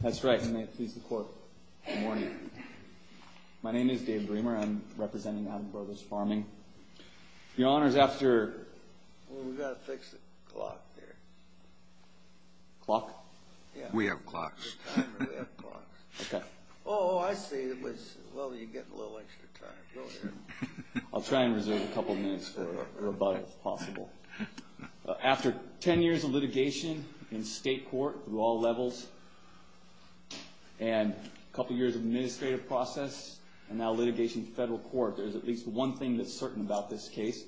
That's right. Good morning. My name is Dave Bremer. I'm representing the Abbott Brothers Farming. Your Honor, after... Well, we've got to fix the clock there. Clock? Yeah. We have clocks. We have clocks. Okay. Oh, I see. Well, you're getting a little extra time. I'll try and reserve a couple minutes for rebuttal, if possible. After 10 years of litigation in state court, through all levels, and a couple years of administrative process, and now litigation in federal court, there's at least one thing that's certain about this case,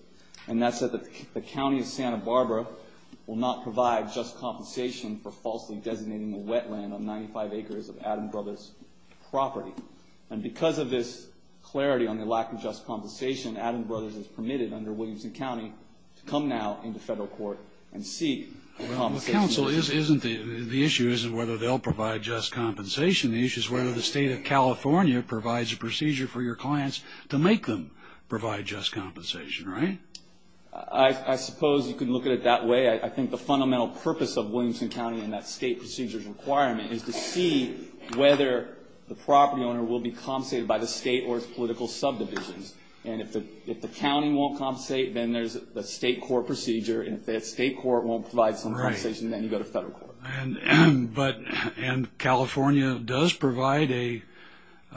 and that's that the County of Santa Barbara will not provide just compensation for falsely designating the wetland on 95 acres of Addams Brothers' property. And because of this clarity on the lack of just compensation, Addams Brothers is permitted under Williamson County to come now into federal court and seek compensation. Well, counsel, the issue isn't whether they'll provide just compensation. The issue is whether the state of California provides a procedure for your clients to make them provide just compensation, right? I suppose you can look at it that way. I think the fundamental purpose of Williamson County and that state procedure's requirement is to see whether the property owner will be compensated by the state or its political subdivisions. And if the county won't compensate, then there's the state court procedure, and if the state court won't provide some compensation, then you go to federal court. And California does provide a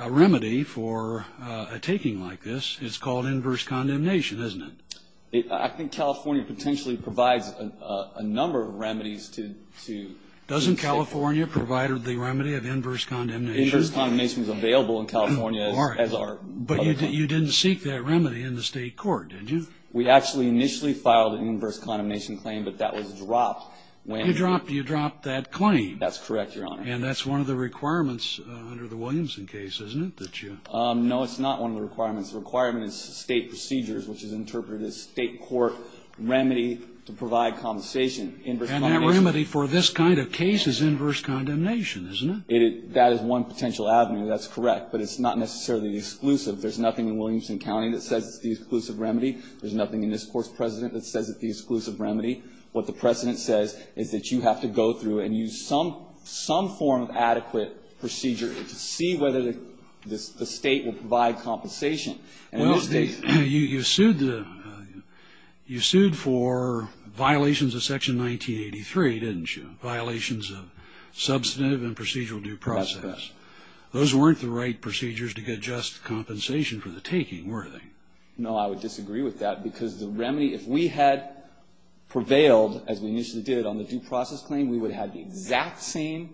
remedy for a taking like this. It's called inverse condemnation, isn't it? I think California potentially provides a number of remedies to the state. Doesn't California provide the remedy of inverse condemnation? Inverse condemnation is available in California as are other counties. But you didn't seek that remedy in the state court, did you? We actually initially filed an inverse condemnation claim, but that was dropped. You dropped that claim. That's correct, Your Honor. And that's one of the requirements under the Williamson case, isn't it? No, it's not one of the requirements. The requirement is state procedures, which is interpreted as state court remedy to provide compensation. And that remedy for this kind of case is inverse condemnation, isn't it? That is one potential avenue, that's correct. But it's not necessarily exclusive. There's nothing in Williamson County that says it's the exclusive remedy. There's nothing in this Court's precedent that says it's the exclusive remedy. What the precedent says is that you have to go through and use some form of adequate procedure to see whether the state will provide compensation. And in this case you sued the you sued for violations of Section 1983, didn't you, violations of substantive and procedural due process. That's correct. Those weren't the right procedures to get just compensation for the taking, were they? No, I would disagree with that, because the remedy, if we had prevailed, as we initially did, on the due process claim, we would have the exact same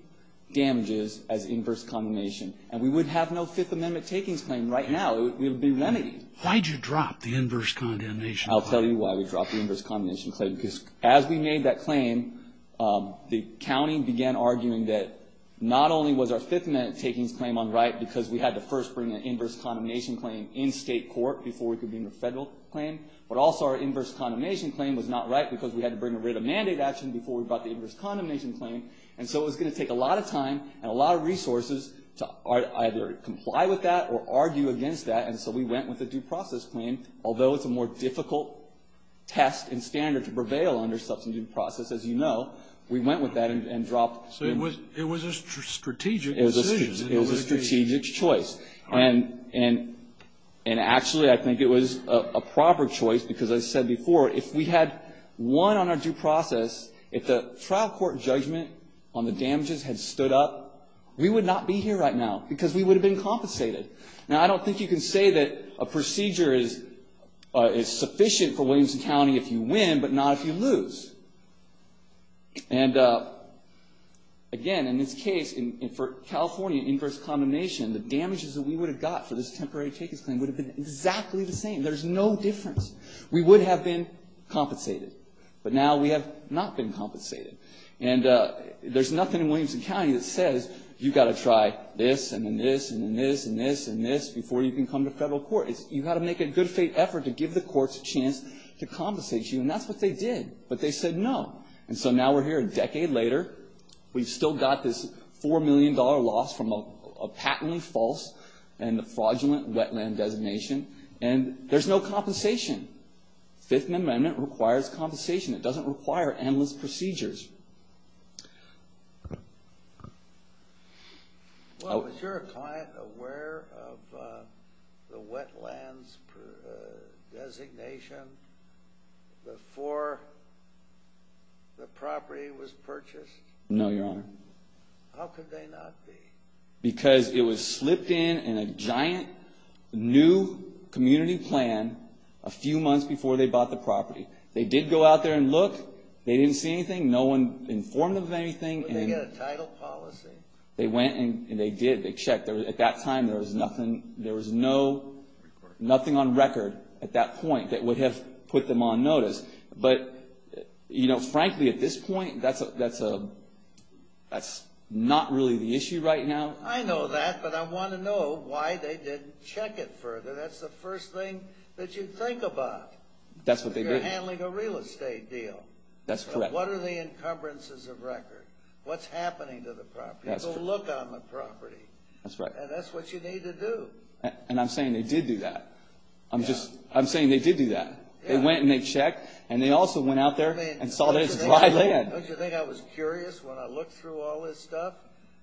damages as inverse condemnation. And we would have no Fifth Amendment takings claim right now. It would be remedied. Why did you drop the inverse condemnation claim? I'll tell you why we dropped the inverse condemnation claim, because as we made that claim, the county began arguing that not only was our Fifth Amendment takings claim unright, because we had to first bring an inverse condemnation claim in state court before we could bring the federal claim, but also our inverse condemnation claim was not right, because we had to bring a writ of mandate action before we brought the inverse condemnation claim. And so it was going to take a lot of time and a lot of resources to either comply with that or argue against that. And so we went with the due process claim, although it's a more difficult test and standard to prevail under substantive process, as you know. We went with that and dropped. So it was a strategic decision. It was a strategic choice. And actually, I think it was a proper choice, because I said before, if we had won on our due process, if the trial court judgment on the damages had stood up, we would not be here right now, because we would have been compensated. Now, I don't think you can say that a procedure is sufficient for Williamson County if you win, but not if you lose. And again, in this case, for California, inverse condemnation, the damages that we would have got for this temporary takings claim would have been exactly the same. There's no difference. We would have been compensated. But now we have not been compensated. And there's nothing in Williamson County that says you've got to try this and then this and then this and this and this before you can come to federal court. You've got to make a good faith effort to give the courts a chance to compensate you. And that's what they did. But they said no. And so now we're here a decade later. We've still got this $4 million loss from a patently false and a fraudulent wetland designation. And there's no compensation. Fifth Amendment requires compensation. It doesn't require endless procedures. Well, is your client aware of the wetlands designation before the property was purchased? No, Your Honor. How could they not be? Because it was slipped in in a giant new community plan a few months before they bought the property. They did go out there and look. They didn't see anything. No one informed them of anything. Did they get a title policy? They went and they did. They checked. At that time, there was nothing on record at that point that would have put them on notice. But, you know, frankly, at this point, that's not really the issue right now. I know that, but I want to know why they didn't check it further. That's the first thing that you think about. That's what they did. You're handling a real estate deal. That's correct. What are the encumbrances of record? What's happening to the property? Go look on the property. That's right. And that's what you need to do. And I'm saying they did do that. I'm saying they did do that. They went and they checked, and they also went out there and saw this dry land. Don't you think I was curious when I looked through all this stuff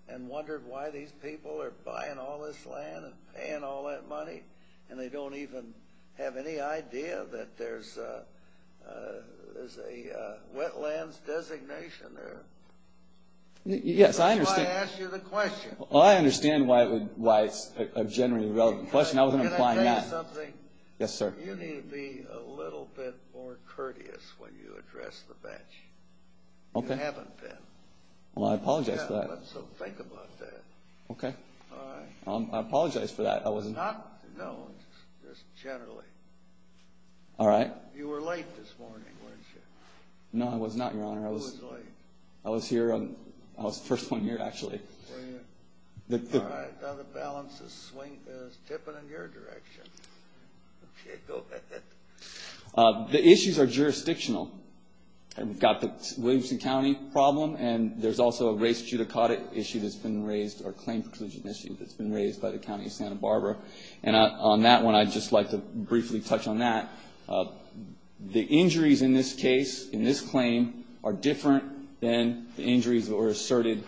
and wondered why these people are buying all this land and paying all that money, and they don't even have any idea that there's a wetlands designation there? Yes, I understand. That's why I asked you the question. Well, I understand why it's a generally relevant question. I wasn't implying that. Can I tell you something? Yes, sir. You need to be a little bit more courteous when you address the bench. Okay. You haven't been. Well, I apologize for that. So think about that. Okay. All right. I apologize for that. No, just generally. All right. You were late this morning, weren't you? No, I was not, Your Honor. Who was late? I was first one here, actually. All right. Now the balance is tipping in your direction. Okay, go ahead. The issues are jurisdictional. We've got the Williamson County problem, and there's also a race judicata issue that's been raised, or a claim preclusion issue that's been raised by the County of Santa Barbara. And on that one, I'd just like to briefly touch on that. The injuries in this case, in this claim, are different than the injuries that were asserted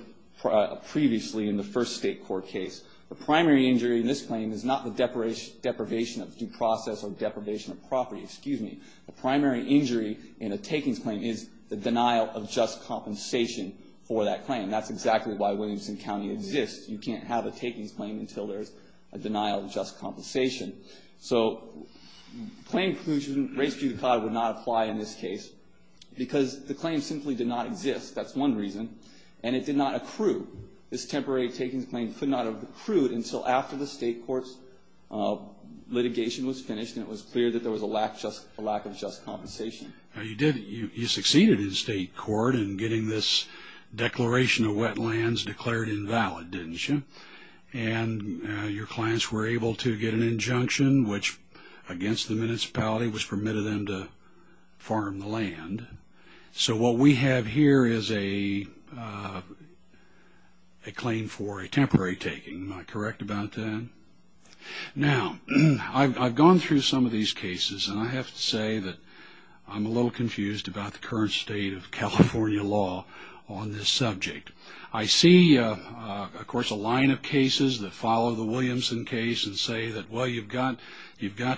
previously in the first state court case. The primary injury in this claim is not the deprivation of due process or deprivation of property. Excuse me. The primary injury in a takings claim is the denial of just compensation for that claim. And that's exactly why Williamson County exists. You can't have a takings claim until there's a denial of just compensation. So claim preclusion, race judicata, would not apply in this case because the claim simply did not exist. That's one reason. And it did not accrue. This temporary takings claim could not have accrued until after the state court's litigation was finished and it was clear that there was a lack of just compensation. You succeeded in state court in getting this declaration of wetlands declared invalid, didn't you? And your clients were able to get an injunction which, against the municipality, was permitted them to farm the land. So what we have here is a claim for a temporary taking. Am I correct about that? Now, I've gone through some of these cases, and I have to say that I'm a little confused about the current state of California law on this subject. I see, of course, a line of cases that follow the Williamson case and say that, well, you've got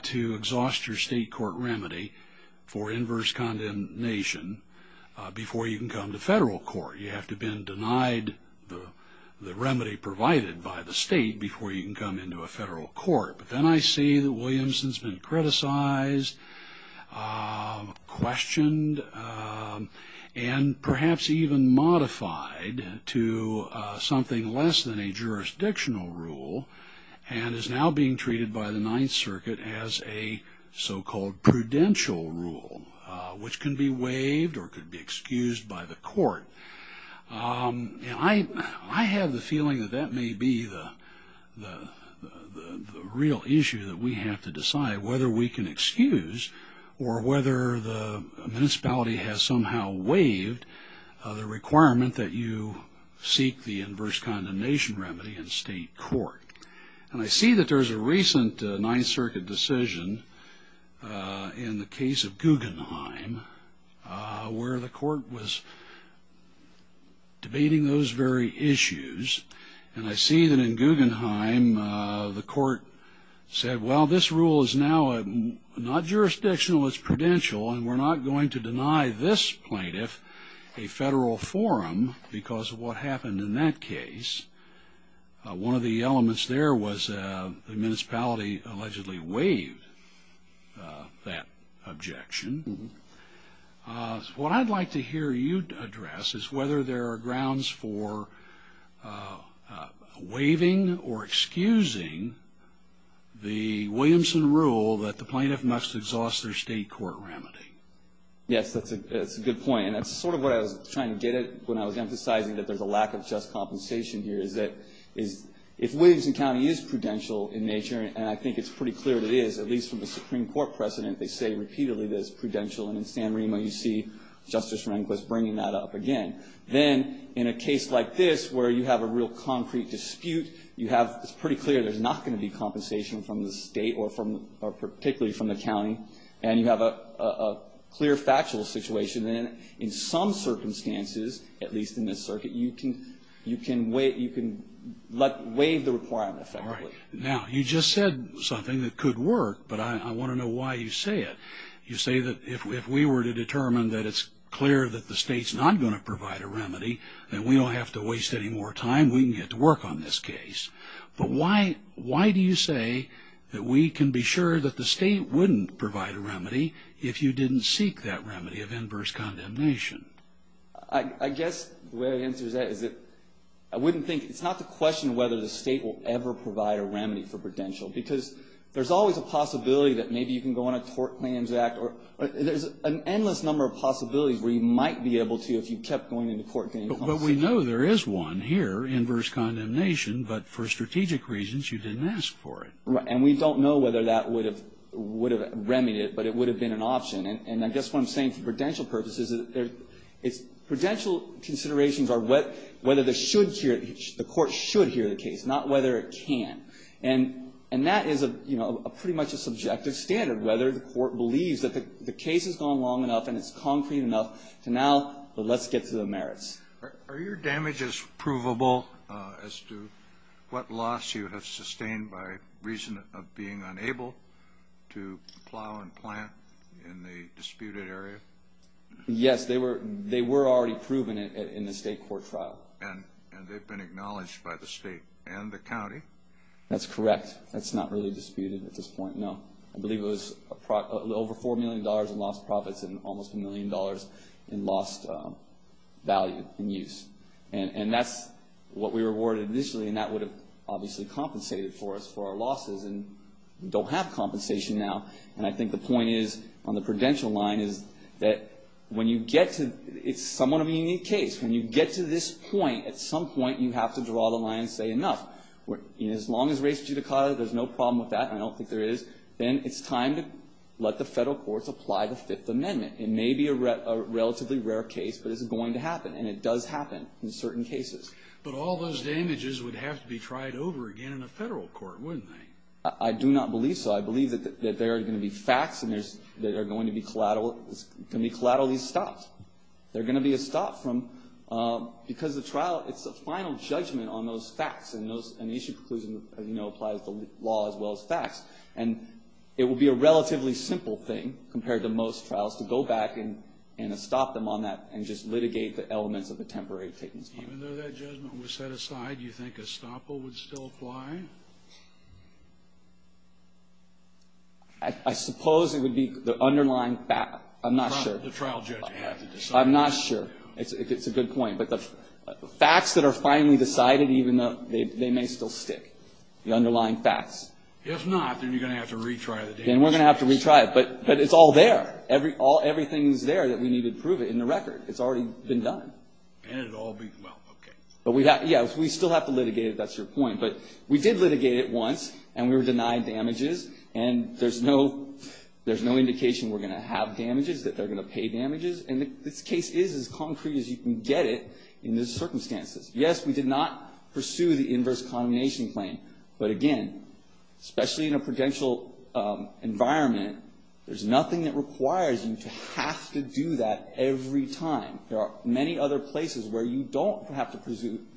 to exhaust your state court remedy for inverse condemnation before you can come to federal court. You have to have been denied the remedy provided by the state before you can come into a federal court. But then I see that Williamson's been criticized, questioned, and perhaps even modified to something less than a jurisdictional rule and is now being treated by the Ninth Circuit as a so-called prudential rule, which can be waived or could be excused by the court. I have the feeling that that may be the real issue that we have to decide, whether we can excuse or whether the municipality has somehow waived the requirement that you seek the inverse condemnation remedy in state court. And I see that there's a recent Ninth Circuit decision in the case of Guggenheim where the court was debating those very issues. And I see that in Guggenheim the court said, well, this rule is now not jurisdictional, it's prudential, and we're not going to deny this plaintiff a federal forum because of what happened in that case. One of the elements there was the municipality allegedly waived that objection. What I'd like to hear you address is whether there are grounds for waiving or excusing the Williamson rule that the plaintiff must exhaust their state court remedy. Yes, that's a good point. And that's sort of what I was trying to get at when I was emphasizing that there's a lack of just compensation here, is that if Williamson County is prudential in nature, and I think it's pretty clear that it is, at least from the Supreme Court precedent, they say repeatedly that it's prudential, and in San Remo you see Justice Rehnquist bringing that up again. Then in a case like this where you have a real concrete dispute, it's pretty clear there's not going to be compensation from the state or particularly from the county, and you have a clear factual situation, then in some circumstances, at least in this circuit, you can waive the requirement effectively. All right. Now, you just said something that could work, but I want to know why you say it. You say that if we were to determine that it's clear that the state's not going to provide a remedy and we don't have to waste any more time, we can get to work on this case. But why do you say that we can be sure that the state wouldn't provide a remedy if you didn't seek that remedy of inverse condemnation? I guess the way the answer to that is that I wouldn't think, it's not to question whether the state will ever provide a remedy for prudential, because there's always a possibility that maybe you can go on a tort claims act, or there's an endless number of possibilities where you might be able to if you kept going into court. But we know there is one here, inverse condemnation, but for strategic reasons, you didn't ask for it. Right. And we don't know whether that would have remedied it, but it would have been an option. And I guess what I'm saying for prudential purposes, prudential considerations are whether the court should hear the case, not whether it can. And that is pretty much a subjective standard, whether the court believes that the case has gone long enough and it's concrete enough to now, but let's get to the merits. Are your damages provable as to what loss you have sustained by reason of being unable to plow and plant in the disputed area? Yes, they were already proven in the state court trial. And they've been acknowledged by the state and the county? That's correct. That's not really disputed at this point, no. I believe it was over $4 million in lost profits and almost $1 million in lost value and use. And that's what we were awarded initially, and that would have obviously compensated for us for our losses. And we don't have compensation now. And I think the point is on the prudential line is that when you get to – it's somewhat a unique case. When you get to this point, at some point you have to draw the line and say enough. As long as race judicata, there's no problem with that. I don't think there is. Then it's time to let the Federal courts apply the Fifth Amendment. It may be a relatively rare case, but it's going to happen. And it does happen in certain cases. But all those damages would have to be tried over again in a Federal court, wouldn't they? I do not believe so. I believe that there are going to be facts that are going to be collaterally stopped. There are going to be a stop from – because the trial, it's a final judgment on those facts. And the issue preclusion, as you know, applies to law as well as facts. And it would be a relatively simple thing compared to most trials to go back and stop them on that and just litigate the elements of the temporary pittance claim. Even though that judgment was set aside, do you think a stop will still apply? I suppose it would be the underlying – I'm not sure. The trial judge would have to decide. I'm not sure. It's a good point. But the facts that are finally decided, even though they may still stick, the underlying facts. If not, then you're going to have to retry the damages. Then we're going to have to retry it. But it's all there. Everything is there that we need to prove it in the record. It's already been done. And it will all be – well, okay. Yeah, we still have to litigate it. That's your point. But we did litigate it once, and we were denied damages. And there's no indication we're going to have damages, that they're going to pay damages. And this case is as concrete as you can get it in these circumstances. Yes, we did not pursue the inverse condemnation claim. But, again, especially in a prudential environment, there's nothing that requires you to have to do that every time. There are many other places where you don't have to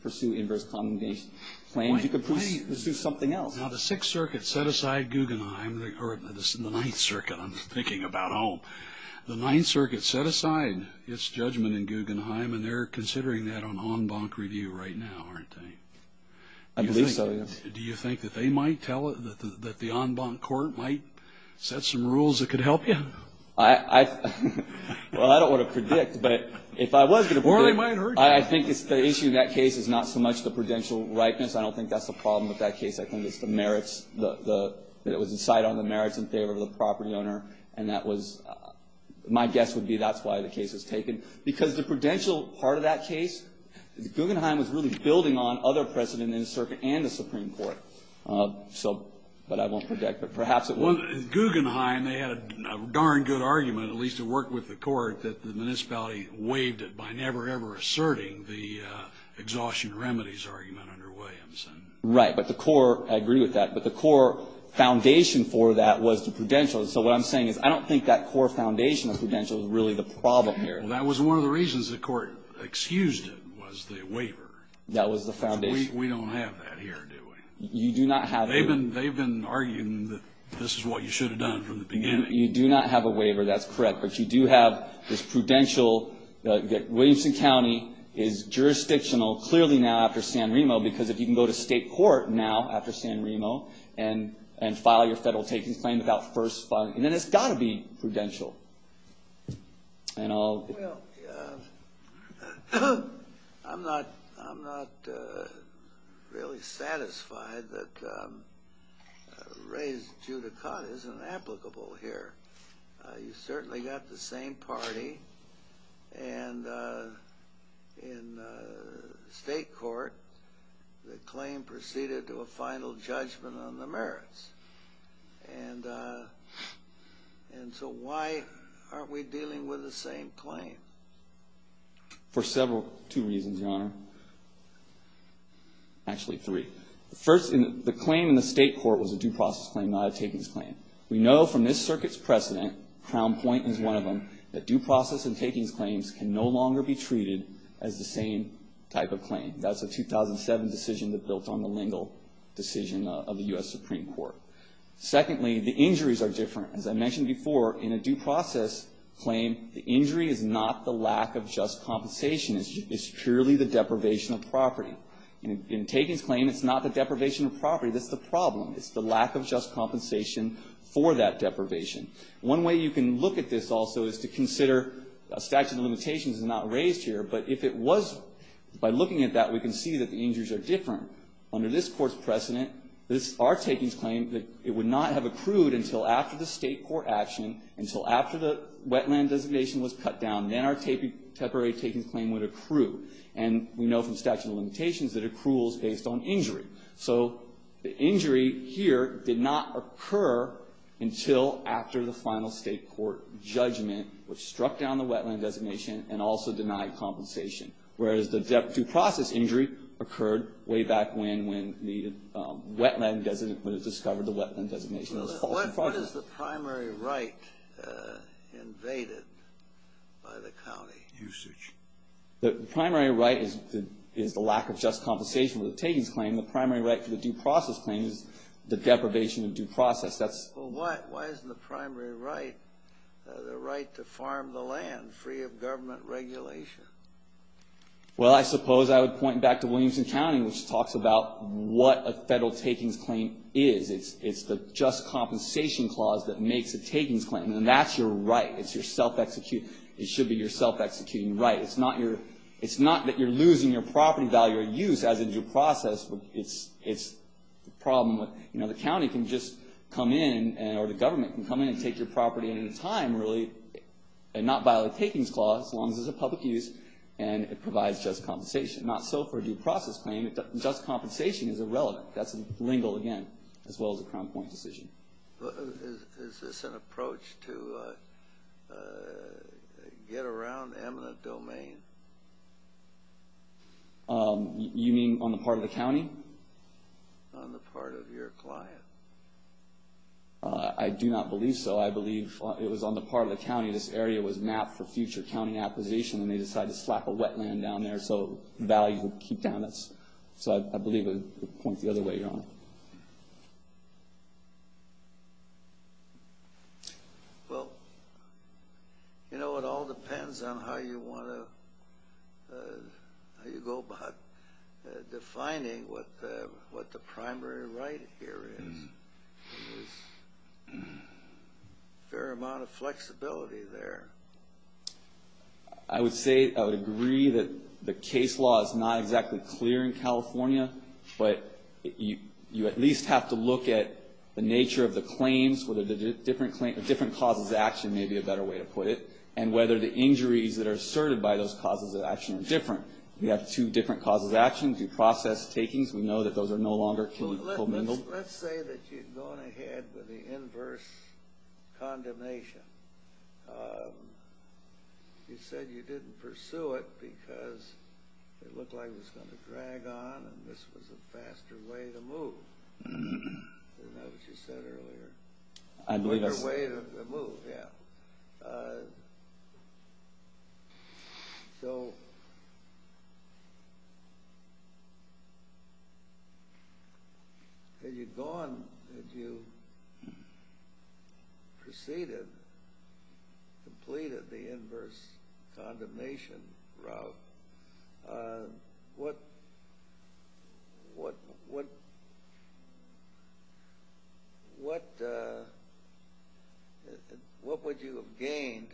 pursue inverse condemnation claims. You could pursue something else. Now, the Sixth Circuit set aside Guggenheim – or the Ninth Circuit, I'm thinking about. The Ninth Circuit set aside its judgment in Guggenheim, and they're considering that on en banc review right now, aren't they? I believe so, yes. Do you think that they might tell – that the en banc court might set some rules that could help you? Well, I don't want to predict, but if I was going to predict – Or they might hurt you. I think the issue in that case is not so much the prudential ripeness. I don't think that's the problem with that case. I think it's the merits – that it was decided on the merits in favor of the property owner. And that was – my guess would be that's why the case was taken. Because the prudential part of that case, Guggenheim was really building on other precedent in the circuit and the Supreme Court. So – but I won't predict. But perhaps it was – Well, in Guggenheim, they had a darn good argument, at least it worked with the court, that the municipality waived it by never, ever asserting the exhaustion remedies argument under Williamson. Right, but the core – I agree with that. But the core foundation for that was the prudential. So what I'm saying is I don't think that core foundation of prudential is really the problem here. Well, that was one of the reasons the court excused it was the waiver. That was the foundation. We don't have that here, do we? You do not have it. They've been arguing that this is what you should have done from the beginning. You do not have a waiver. That's correct. But you do have this prudential. Williamson County is jurisdictional, clearly now after San Remo, because if you can go to state court now after San Remo and file your federal takings claim without first filing – then it's got to be prudential. And I'll – Well, I'm not really satisfied that Ray's judicata is inapplicable here. You certainly got the same party. And in state court, the claim proceeded to a final judgment on the merits. And so why aren't we dealing with the same claim? For several – two reasons, Your Honor. Actually, three. First, the claim in the state court was a due process claim, not a takings claim. We know from this circuit's precedent, Crown Point is one of them, that due process and takings claims can no longer be treated as the same type of claim. That's a 2007 decision that built on the Lingle decision of the U.S. Supreme Court. Secondly, the injuries are different. As I mentioned before, in a due process claim, the injury is not the lack of just compensation. It's purely the deprivation of property. In a takings claim, it's not the deprivation of property that's the problem. It's the lack of just compensation for that deprivation. One way you can look at this also is to consider statute of limitations is not raised here, but if it was, by looking at that, we can see that the injuries are different. Under this court's precedent, our takings claim, it would not have accrued until after the state court action, until after the wetland designation was cut down. Then our temporary takings claim would accrue. So the injury here did not occur until after the final state court judgment, which struck down the wetland designation and also denied compensation, whereas the due process injury occurred way back when, when the wetland designate would have discovered the wetland designation was false. What is the primary right invaded by the county? Usage. The primary right is the lack of just compensation with the takings claim. The primary right for the due process claim is the deprivation of due process. Why isn't the primary right the right to farm the land free of government regulation? Well, I suppose I would point back to Williamson County, which talks about what a federal takings claim is. It's the just compensation clause that makes a takings claim, and that's your right. It's your self-executing. It should be your self-executing right. It's not that you're losing your property value or use as a due process. It's the problem with the county can just come in, or the government can come in and take your property in at a time, really, and not violate takings clause, as long as it's a public use, and it provides just compensation. Not so for a due process claim. Just compensation is irrelevant. That's legal again, as well as a Crown Point decision. Is this an approach to get around eminent domain? You mean on the part of the county? On the part of your client. I do not believe so. I believe it was on the part of the county. This area was mapped for future county acquisition, and they decided to slap a wetland down there so value would keep down. I believe it would point the other way around. Well, it all depends on how you go about defining what the primary right here is. There's a fair amount of flexibility there. I would say I would agree that the case law is not exactly clear in California, but you at least have to look at the nature of the claims, whether the different causes of action may be a better way to put it, and whether the injuries that are asserted by those causes of action are different. You have two different causes of action, due process takings. We know that those are no longer commingled. Let's say that you're going ahead with the inverse condemnation. You said you didn't pursue it because it looked like it was going to drag on and this was a faster way to move. Isn't that what you said earlier? A quicker way to move, yeah. So had you gone, had you proceeded, completed the inverse condemnation route, what would you have gained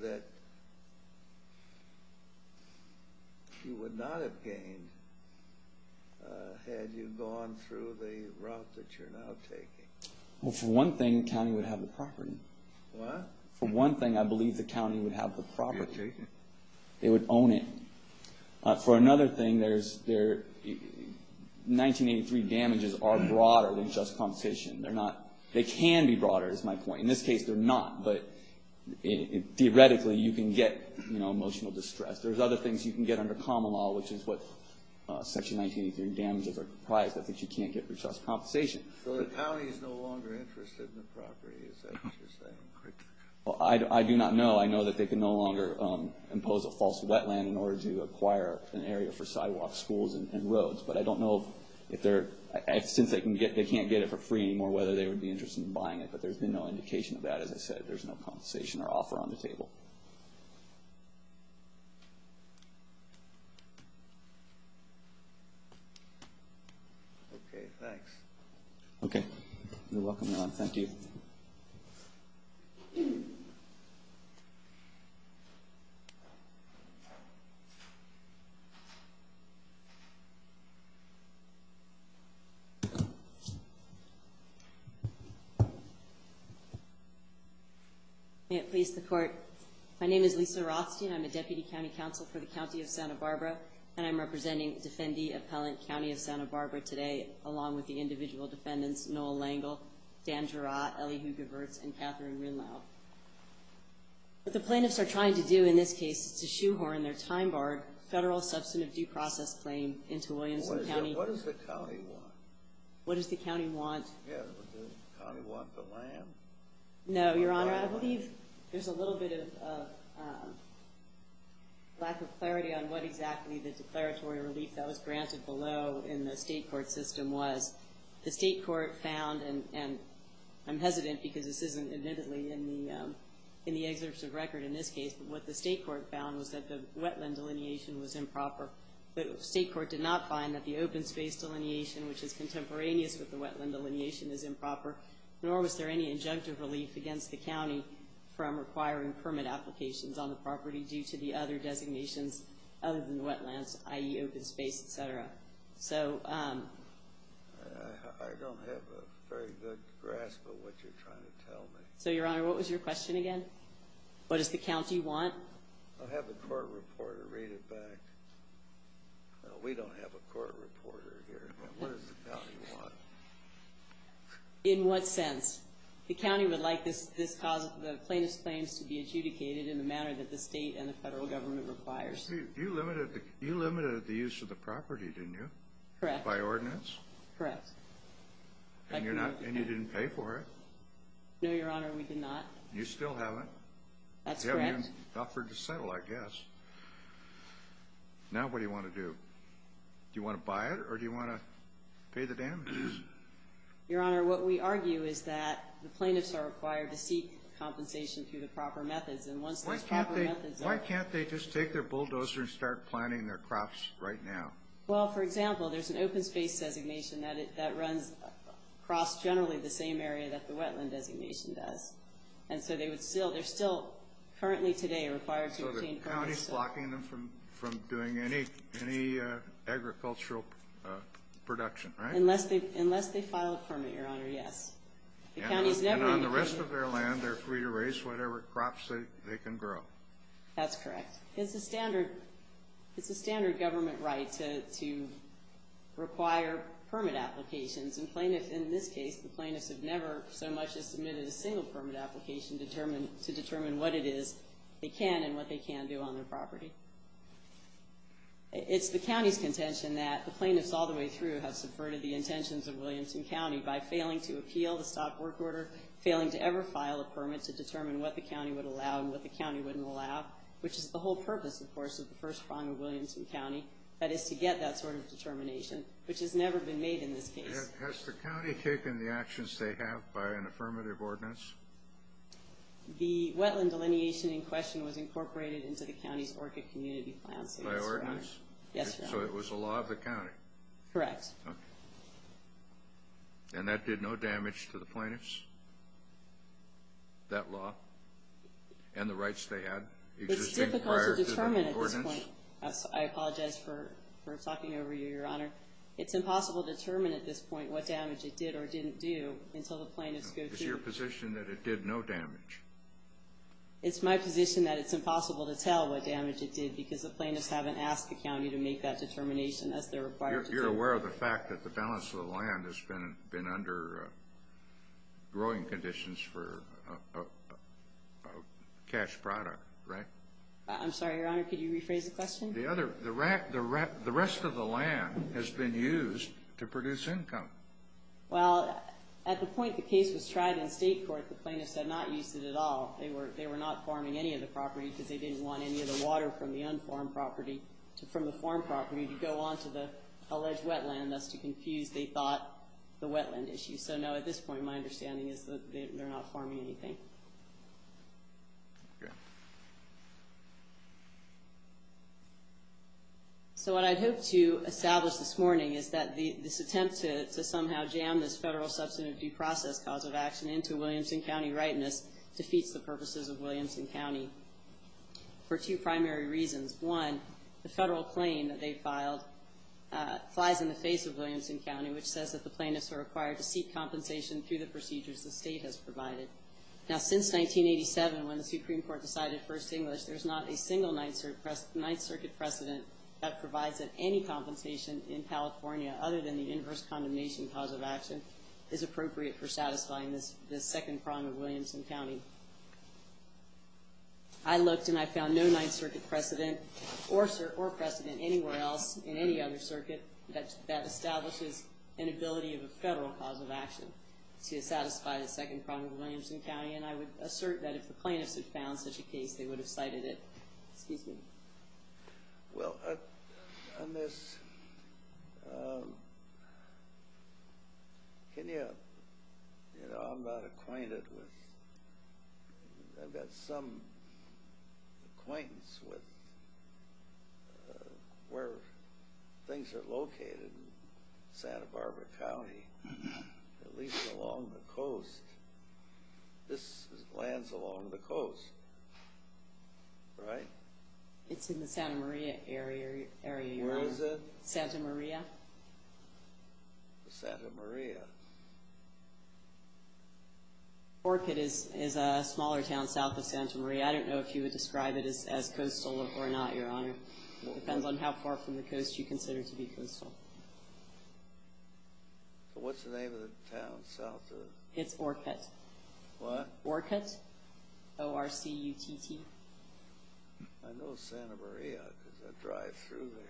that you would not have gained had you gone through the route that you're now taking? Well, for one thing, the county would have the property. What? For one thing, I believe the county would have the property. They would own it. For another thing, 1983 damages are broader than just compensation. They're not, they can be broader is my point. In this case, they're not. But theoretically, you can get emotional distress. There's other things you can get under common law, which is what Section 1983 damages are comprised of that you can't get for just compensation. So the county is no longer interested in the property, is that what you're saying? Well, I do not know. I know that they can no longer impose a false wetland in order to acquire an area for sidewalks, schools, and roads. But I don't know if they're, since they can't get it for free anymore, whether they would be interested in buying it. But there's been no indication of that, as I said. There's no compensation or offer on the table. Okay, thanks. Okay. You're welcome, Ron. Thank you. May it please the Court. My name is Lisa Rothstein. I'm a Deputy County Counsel for the County of Santa Barbara, and I'm representing Defendee Appellant County of Santa Barbara today, along with the individual defendants, Noel Langel, Dan Jarratt, Ellie Hoogervertz, and Catherine Rinlow. What the plaintiffs are trying to do in this case is to shoehorn their time-barred federal substantive due process claim into Williamson County. What does the county want? What does the county want? Does the county want the land? No, Your Honor. I believe there's a little bit of lack of clarity on what exactly the declaratory relief that was granted below in the state court system was. The state court found, and I'm hesitant because this isn't admittedly in the excerpt of record in this case, but what the state court found was that the wetland delineation was improper. The state court did not find that the open space delineation, which is contemporaneous with the wetland delineation, is improper, nor was there any injunctive relief against the county from requiring permit applications on the property due to the other designations other than the open space, et cetera. I don't have a very good grasp of what you're trying to tell me. So, Your Honor, what was your question again? What does the county want? I'll have the court reporter read it back. We don't have a court reporter here. What does the county want? In what sense? The county would like the plaintiff's claims to be adjudicated in the manner that the state and the federal government requires. You limited the use of the property, didn't you? Correct. By ordinance? Correct. And you didn't pay for it? No, Your Honor, we did not. You still haven't? That's correct. You haven't even offered to settle, I guess. Now what do you want to do? Do you want to buy it or do you want to pay the damages? Your Honor, what we argue is that the plaintiffs are required to seek compensation through the proper methods, and once those proper methods are Why can't they just take their bulldozer and start planting their crops right now? Well, for example, there's an open space designation that runs across generally the same area that the wetland designation does. And so they're still currently today required to obtain permits. So the county's blocking them from doing any agricultural production, right? Unless they file a permit, Your Honor, yes. And on the rest of their land, they're free to raise whatever crops they can grow. That's correct. It's a standard government right to require permit applications. In this case, the plaintiffs have never so much as submitted a single permit application to determine what it is they can and what they can do on their property. It's the county's contention that the plaintiffs all the way through have subverted the intentions of Williamson County by failing to appeal the stop work order, failing to ever file a permit to determine what the county would allow and what the county wouldn't allow, which is the whole purpose, of course, of the first prong of Williamson County, that is to get that sort of determination, which has never been made in this case. Has the county taken the actions they have by an affirmative ordinance? The wetland delineation in question was incorporated into the county's ORCA community plan. By ordinance? Yes, Your Honor. So it was a law of the county? Correct. Okay. And that did no damage to the plaintiffs, that law, and the rights they had existing prior to the ordinance? It's difficult to determine at this point. I apologize for talking over you, Your Honor. It's impossible to determine at this point what damage it did or didn't do until the plaintiffs go through. It's your position that it did no damage. It's my position that it's impossible to tell what damage it did because the plaintiffs haven't asked the county to make that determination as they're required to do. You're aware of the fact that the balance of the land has been under growing conditions for a cash product, right? I'm sorry, Your Honor. Could you rephrase the question? The rest of the land has been used to produce income. Well, at the point the case was tried in state court, the plaintiffs had not used it at all. They were not farming any of the property because they didn't want any of the water from the farm property to go on to the alleged wetland, thus to confuse, they thought, the wetland issue. So, no, at this point, my understanding is that they're not farming anything. So what I'd hoped to establish this morning is that this attempt to somehow jam this federal substantive due process cause of action into Williamson County rightness defeats the purposes of Williamson County. For two primary reasons. One, the federal claim that they filed flies in the face of Williamson County, which says that the plaintiffs are required to seek compensation through the procedures the state has provided. Now, since 1987, when the Supreme Court decided First English, there's not a single Ninth Circuit precedent that provides that any compensation in California, other than the inverse condemnation cause of action, is appropriate for satisfying this second prong of Williamson County. I looked and I found no Ninth Circuit precedent or precedent anywhere else in any other circuit that establishes an ability of a federal cause of action to satisfy the second prong of Williamson County, and I would assert that if the plaintiffs had found such a case, they would have cited it. Excuse me. Well, on this... Can you... You know, I'm not acquainted with... I've got some acquaintance with where things are located in Santa Barbara County, at least along the coast. This lands along the coast. Right? It's in the Santa Maria area, Your Honor. Where is it? Santa Maria. Santa Maria. Orkut is a smaller town south of Santa Maria. I don't know if you would describe it as coastal or not, Your Honor. It depends on how far from the coast you consider to be coastal. What's the name of the town south of... It's Orkut. What? Orkut. O-R-C-U-T-T. I know Santa Maria. It's a drive-through there.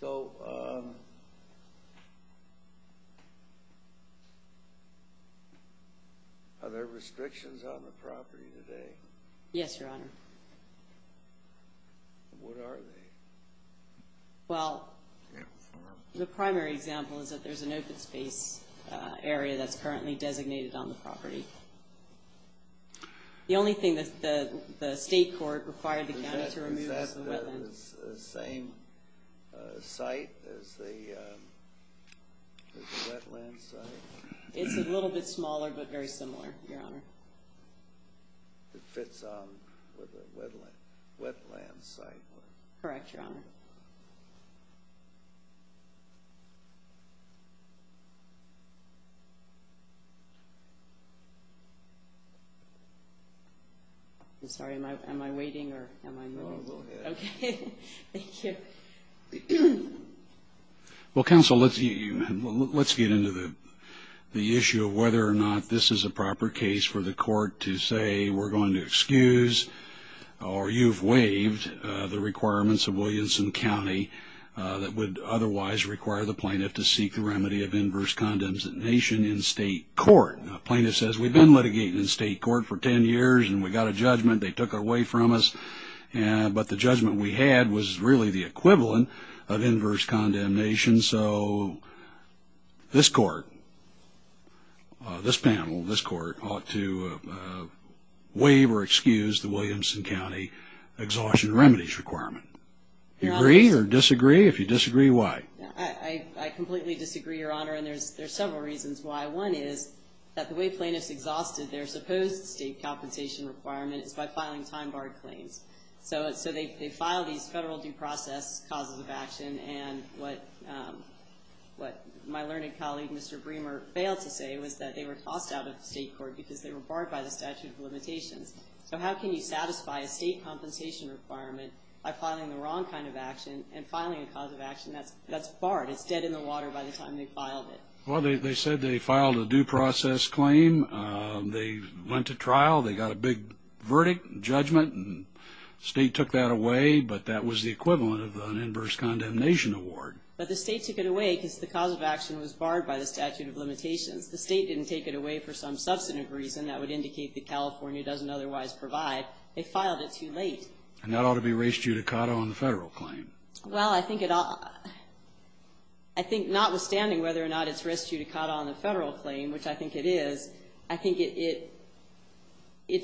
So... Are there restrictions on the property today? Yes, Your Honor. What are they? Well, the primary example is that there's an open space area that's currently designated on the property. The only thing that the state court required the county to remove is the wetland. Is that the same site as the wetland site? It's a little bit smaller, but very similar, Your Honor. It fits on with the wetland site? Correct, Your Honor. I'm sorry. Am I waiting or am I moving? No, go ahead. Okay. Thank you. Well, counsel, let's get into the issue of whether or not this is a proper case for the court to say, we're going to excuse, or you've waived, the requirements of Williamson County that would otherwise require the plaintiff to seek the remedy of inverse condemnation in state court. A plaintiff says, we've been litigating in state court for 10 years, and we got a judgment. They took it away from us. But the judgment we had was really the equivalent of inverse condemnation. So this court, this panel, this court ought to waive or excuse the Williamson County exhaustion remedies requirement. Do you agree or disagree? If you disagree, why? I completely disagree, Your Honor, and there's several reasons why. One is that the way plaintiffs exhausted their supposed state compensation requirement is by filing time-barred claims. So they filed these federal due process causes of action, and what my learned colleague, Mr. Bremer, failed to say was that they were tossed out of state court because they were barred by the statute of limitations. So how can you satisfy a state compensation requirement by filing the wrong kind of action and filing a cause of action that's barred, it's dead in the water by the time they filed it? They went to trial. They got a big verdict, judgment, and the state took that away, but that was the equivalent of an inverse condemnation award. But the state took it away because the cause of action was barred by the statute of limitations. The state didn't take it away for some substantive reason that would indicate that California doesn't otherwise provide. They filed it too late. And that ought to be res judicata on the federal claim. Well, I think notwithstanding whether or not it's res judicata on the federal claim, which I think it is, I think it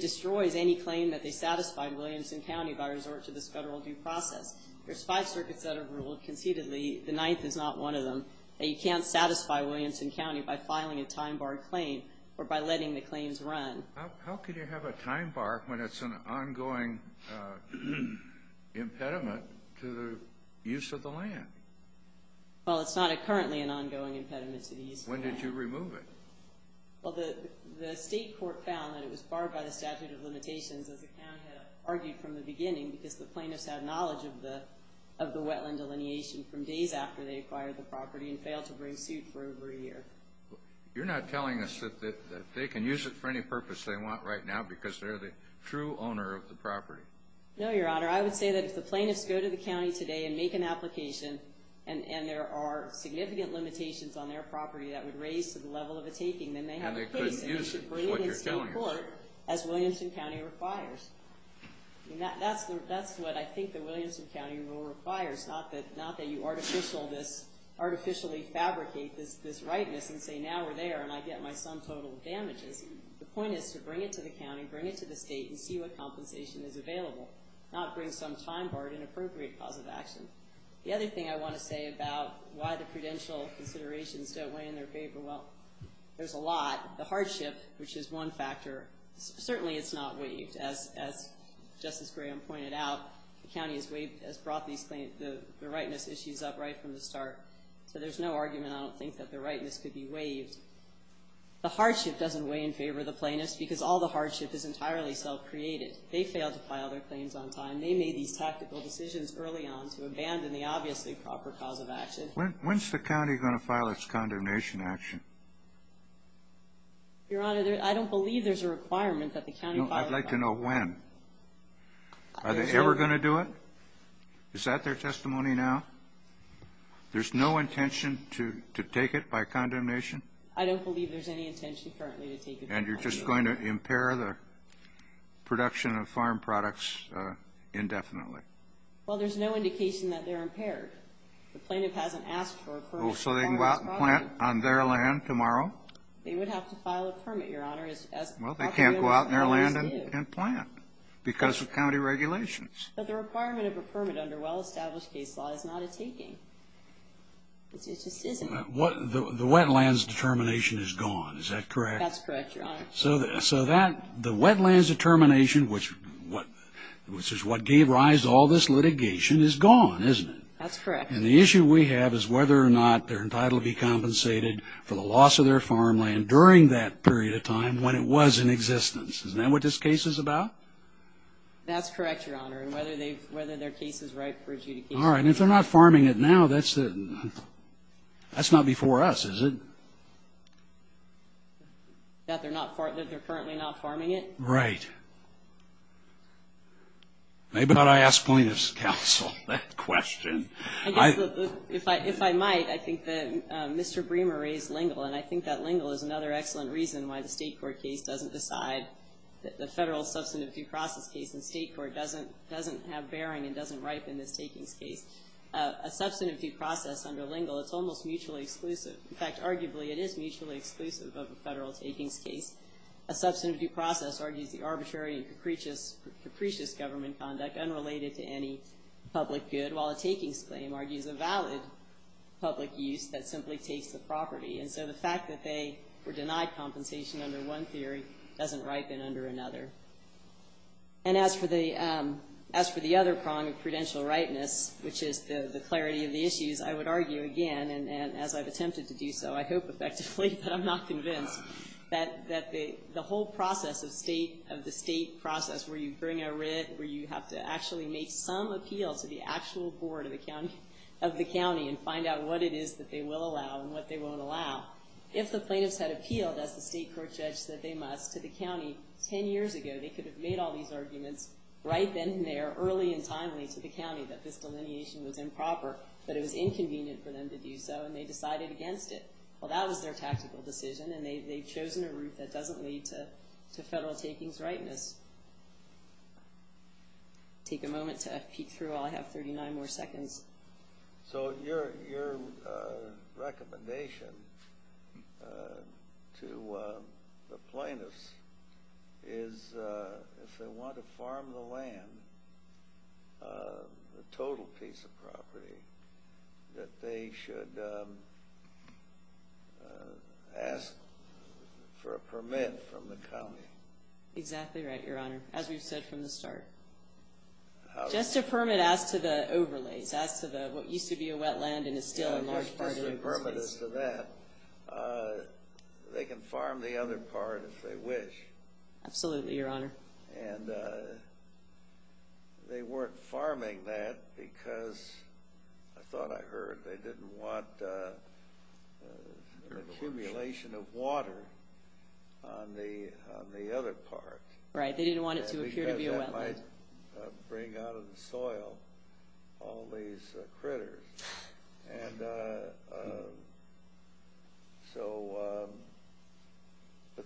destroys any claim that they satisfied Williamson County by resort to this federal due process. There's five circuits that are ruled conceitedly, the ninth is not one of them, that you can't satisfy Williamson County by filing a time barred claim or by letting the claims run. How can you have a time bar when it's an ongoing impediment to the use of the Well, it's not currently an ongoing impediment to the use of the land. When did you remove it? Well, the state court found that it was barred by the statute of limitations as the county had argued from the beginning because the plaintiffs had knowledge of the wetland delineation from days after they acquired the property and failed to bring suit for over a year. You're not telling us that they can use it for any purpose they want right now because they're the true owner of the property? No, Your Honor. I would say that if the plaintiffs go to the county today and make an application and there are significant limitations on their property that I would raise to the level of a taking, then they have a case and they should bring it to the state court as Williamson County requires. That's what I think the Williamson County rule requires, not that you artificially fabricate this rightness and say, now we're there and I get my sum total of damages. The point is to bring it to the county, bring it to the state, and see what compensation is available, not bring some time barred inappropriate cause of action. The other thing I want to say about why the prudential considerations don't weigh in their favor, well, there's a lot. The hardship, which is one factor, certainly it's not waived. As Justice Graham pointed out, the county has brought the rightness issues up right from the start. So there's no argument I don't think that the rightness could be waived. The hardship doesn't weigh in favor of the plaintiffs because all the hardship is entirely self-created. They failed to file their claims on time. They made these tactical decisions early on to abandon the obviously proper cause of action. When's the county going to file its condemnation action? Your Honor, I don't believe there's a requirement that the county file it. I'd like to know when. Are they ever going to do it? Is that their testimony now? There's no intention to take it by condemnation? I don't believe there's any intention currently to take it by condemnation. And you're just going to impair the production of farm products indefinitely? Well, there's no indication that they're impaired. The plaintiff hasn't asked for a permit to farm those products. So they can go out and plant on their land tomorrow? They would have to file a permit, Your Honor. Well, they can't go out on their land and plant because of county regulations. But the requirement of a permit under well-established case law is not a taking. It just isn't. The wetlands determination is gone, is that correct? That's correct, Your Honor. So the wetlands determination, which is what gave rise to all this litigation, is gone, isn't it? That's correct. And the issue we have is whether or not they're entitled to be compensated for the loss of their farmland during that period of time when it was in existence. Isn't that what this case is about? That's correct, Your Honor. And whether their case is ripe for adjudication. All right. And if they're not farming it now, that's not before us, is it? That they're currently not farming it? Right. Maybe I ought to ask plaintiff's counsel that question. If I might, I think that Mr. Bremer raised Lingle, and I think that Lingle is another excellent reason why the state court case doesn't decide that the federal substantive due process case in state court doesn't have bearing and doesn't ripen this takings case. A substantive due process under Lingle, it's almost mutually exclusive. In fact, arguably, it is mutually exclusive of a federal takings case. A substantive due process argues the arbitrary and capricious government conduct unrelated to any public good, while a takings claim argues a valid public use that simply takes the property. And so the fact that they were denied compensation under one theory doesn't ripen under another. And as for the other prong of prudential rightness, which is the clarity of the issues, I would argue again, and as I've attempted to do so, I hope effectively, but I'm not convinced, that the whole process of state, of the state process where you bring a writ, where you have to actually make some appeal to the actual board of the county and find out what it is that they will allow and what they won't allow. If the plaintiffs had appealed, as the state court judge said they must, to the county 10 years ago, they could have made all these arguments right then and there, early and timely, to the county that this delineation was improper, that it was inconvenient for them to do so, and they decided against it. Well, that was their tactical decision, and they've chosen a route that doesn't lead to federal takings rightness. Take a moment to peek through while I have 39 more seconds. So your recommendation to the plaintiffs is if they want to farm the land, the total piece of property, that they should ask for a permit from the county. Exactly right, Your Honor, as we've said from the start. Just a permit as to the overlays, as to what used to be a wetland and is still a large part of the overlays. Just a permit as to that. They can farm the other part if they wish. Absolutely, Your Honor. And they weren't farming that because, I thought I heard, they didn't want an accumulation of water on the other part. Right, they didn't want it to appear to be a wetland. Because that might bring out of the soil all these critters. And so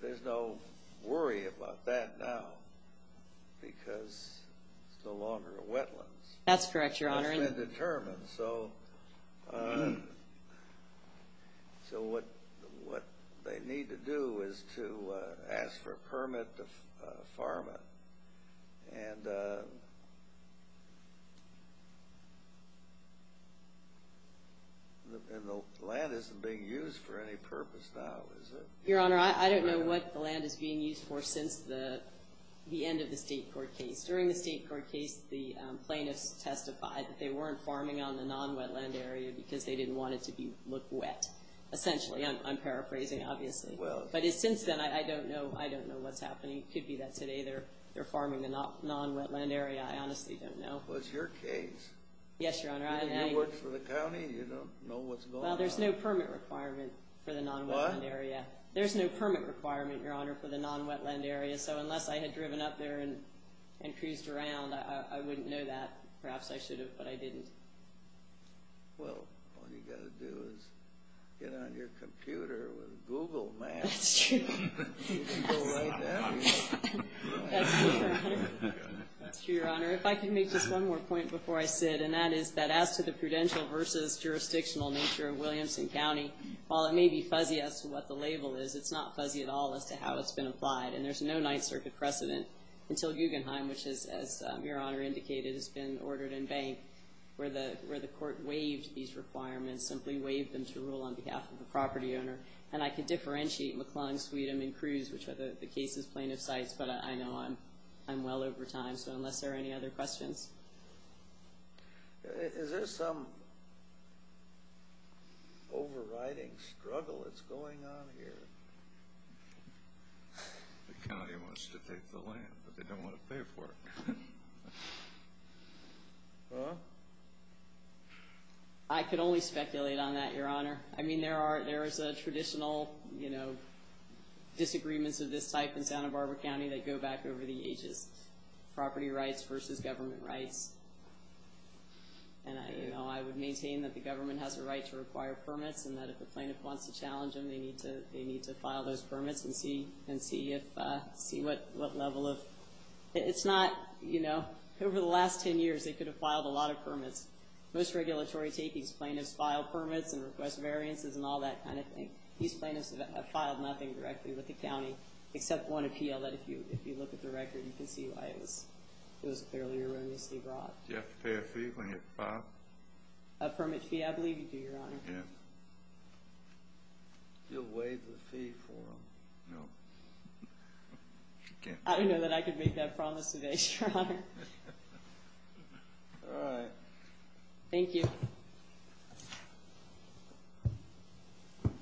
there's no worry about that now because it's no longer a wetland. That's correct, Your Honor. It's been determined. And so what they need to do is to ask for a permit to farm it. And the land isn't being used for any purpose now, is it? Your Honor, I don't know what the land is being used for since the end of the state court case. During the state court case, the plaintiffs testified that they weren't farming on the non-wetland area because they didn't want it to look wet, essentially. I'm paraphrasing, obviously. But since then, I don't know what's happening. It could be that today they're farming the non-wetland area. I honestly don't know. Well, it's your case. Yes, Your Honor. You work for the county. You know what's going on. Well, there's no permit requirement for the non-wetland area. What? There's no permit requirement, Your Honor, for the non-wetland area. So unless I had driven up there and cruised around, I wouldn't know that. Perhaps I should have, but I didn't. Well, all you've got to do is get on your computer with Google Maps. That's true. You can go right there. That's true, Your Honor. If I could make just one more point before I sit, and that is that as to the prudential versus jurisdictional nature of Williamson County, while it may be fuzzy as to what the label is, it's not fuzzy at all as to how it's been applied. And there's no Ninth Circuit precedent until Guggenheim, which, as Your Honor indicated, has been ordered and banked, where the court waived these requirements, simply waived them to rule on behalf of the property owner. And I could differentiate McClung, Sweetum, and Cruz, which are the case's plaintiff sites, but I know I'm well over time. So unless there are any other questions. Is there some overriding struggle that's going on here? The county wants to take the land, but they don't want to pay for it. Huh? I could only speculate on that, Your Honor. I mean, there are traditional disagreements of this type in Santa Barbara County that go back over the ages, property rights versus government rights. And I would maintain that the government has a right to require permits and that if the plaintiff wants to challenge them, they need to file those permits and see what level of – it's not – over the last 10 years, they could have filed a lot of permits. Most regulatory takings, plaintiffs file permits and request variances and all that kind of thing. These plaintiffs have filed nothing directly with the county, except one appeal that if you look at the record, you can see why it was fairly erroneously brought. Do you have to pay a fee when you file? A permit fee, I believe you do, Your Honor. Yes. You'll waive the fee for them? No. I didn't know that I could make that promise today, Your Honor. All right. Thank you. Have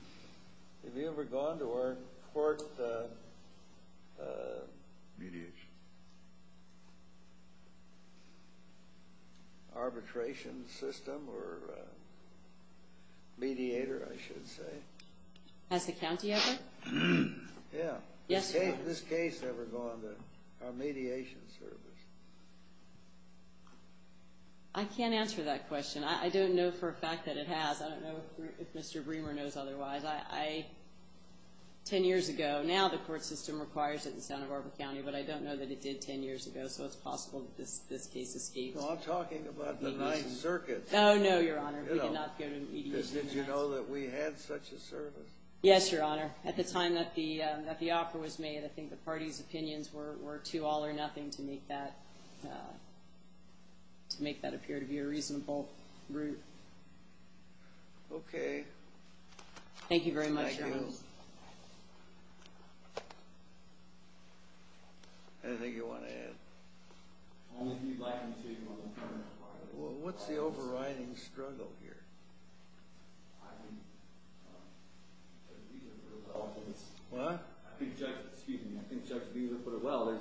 you ever gone to our court mediation system or mediator, I should say? Has the county ever? Yes, Your Honor. Has this case ever gone to our mediation service? I can't answer that question. I don't know for a fact that it has. I don't know if Mr. Bremer knows otherwise. Ten years ago. Now the court system requires it in Santa Barbara County, but I don't know that it did ten years ago, so it's possible that this case escaped. Well, I'm talking about the Ninth Circuit. Oh, no, Your Honor. We did not go to mediation. Did you know that we had such a service? Yes, Your Honor. At the time that the offer was made, I think the party's opinions were too all or nothing to make that appear to be a reasonable route. Okay. Thank you very much, Your Honor. Thank you. Anything you want to add? Only if you'd like me to, Your Honor. Well, what's the overriding struggle here? I think Judge Beazer put it well. What? I think Judge Beazer put it well.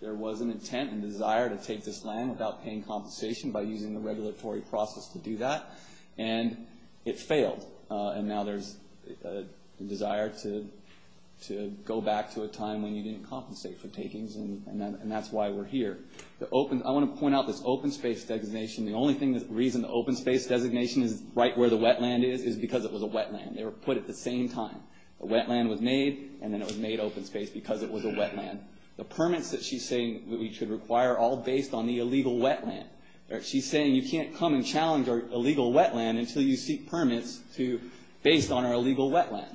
There was an intent and desire to take this land without paying compensation by using the regulatory process to do that, and it failed. And now there's a desire to go back to a time when you didn't compensate for takings, and that's why we're here. I want to point out this open space designation. The only reason the open space designation is right where the wetland is is because it was a wetland. They were put at the same time. The wetland was made, and then it was made open space because it was a wetland. The permits that she's saying that we should require are all based on the illegal wetland. She's saying you can't come and challenge our illegal wetland until you seek permits based on our illegal wetland.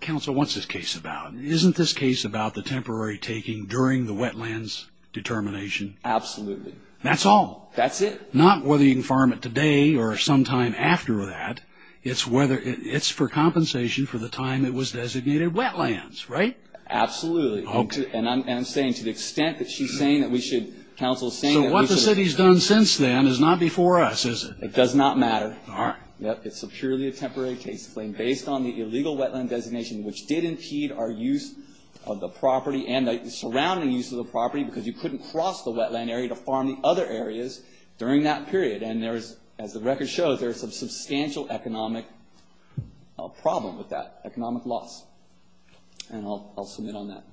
Counsel, what's this case about? Isn't this case about the temporary taking during the wetland's determination? Absolutely. That's all? That's it. Not whether you can farm it today or sometime after that. It's for compensation for the time it was designated wetlands, right? Absolutely. Okay. And I'm saying to the extent that she's saying that we should, counsel is saying that we should. So what the city's done since then is not before us, is it? It does not matter. All right. It's purely a temporary case, based on the illegal wetland designation which did impede our use of the property and the surrounding use of the property because you couldn't cross the wetland area to farm the other areas during that period. And as the record shows, there's a substantial economic problem with that, economic loss. And I'll submit on that.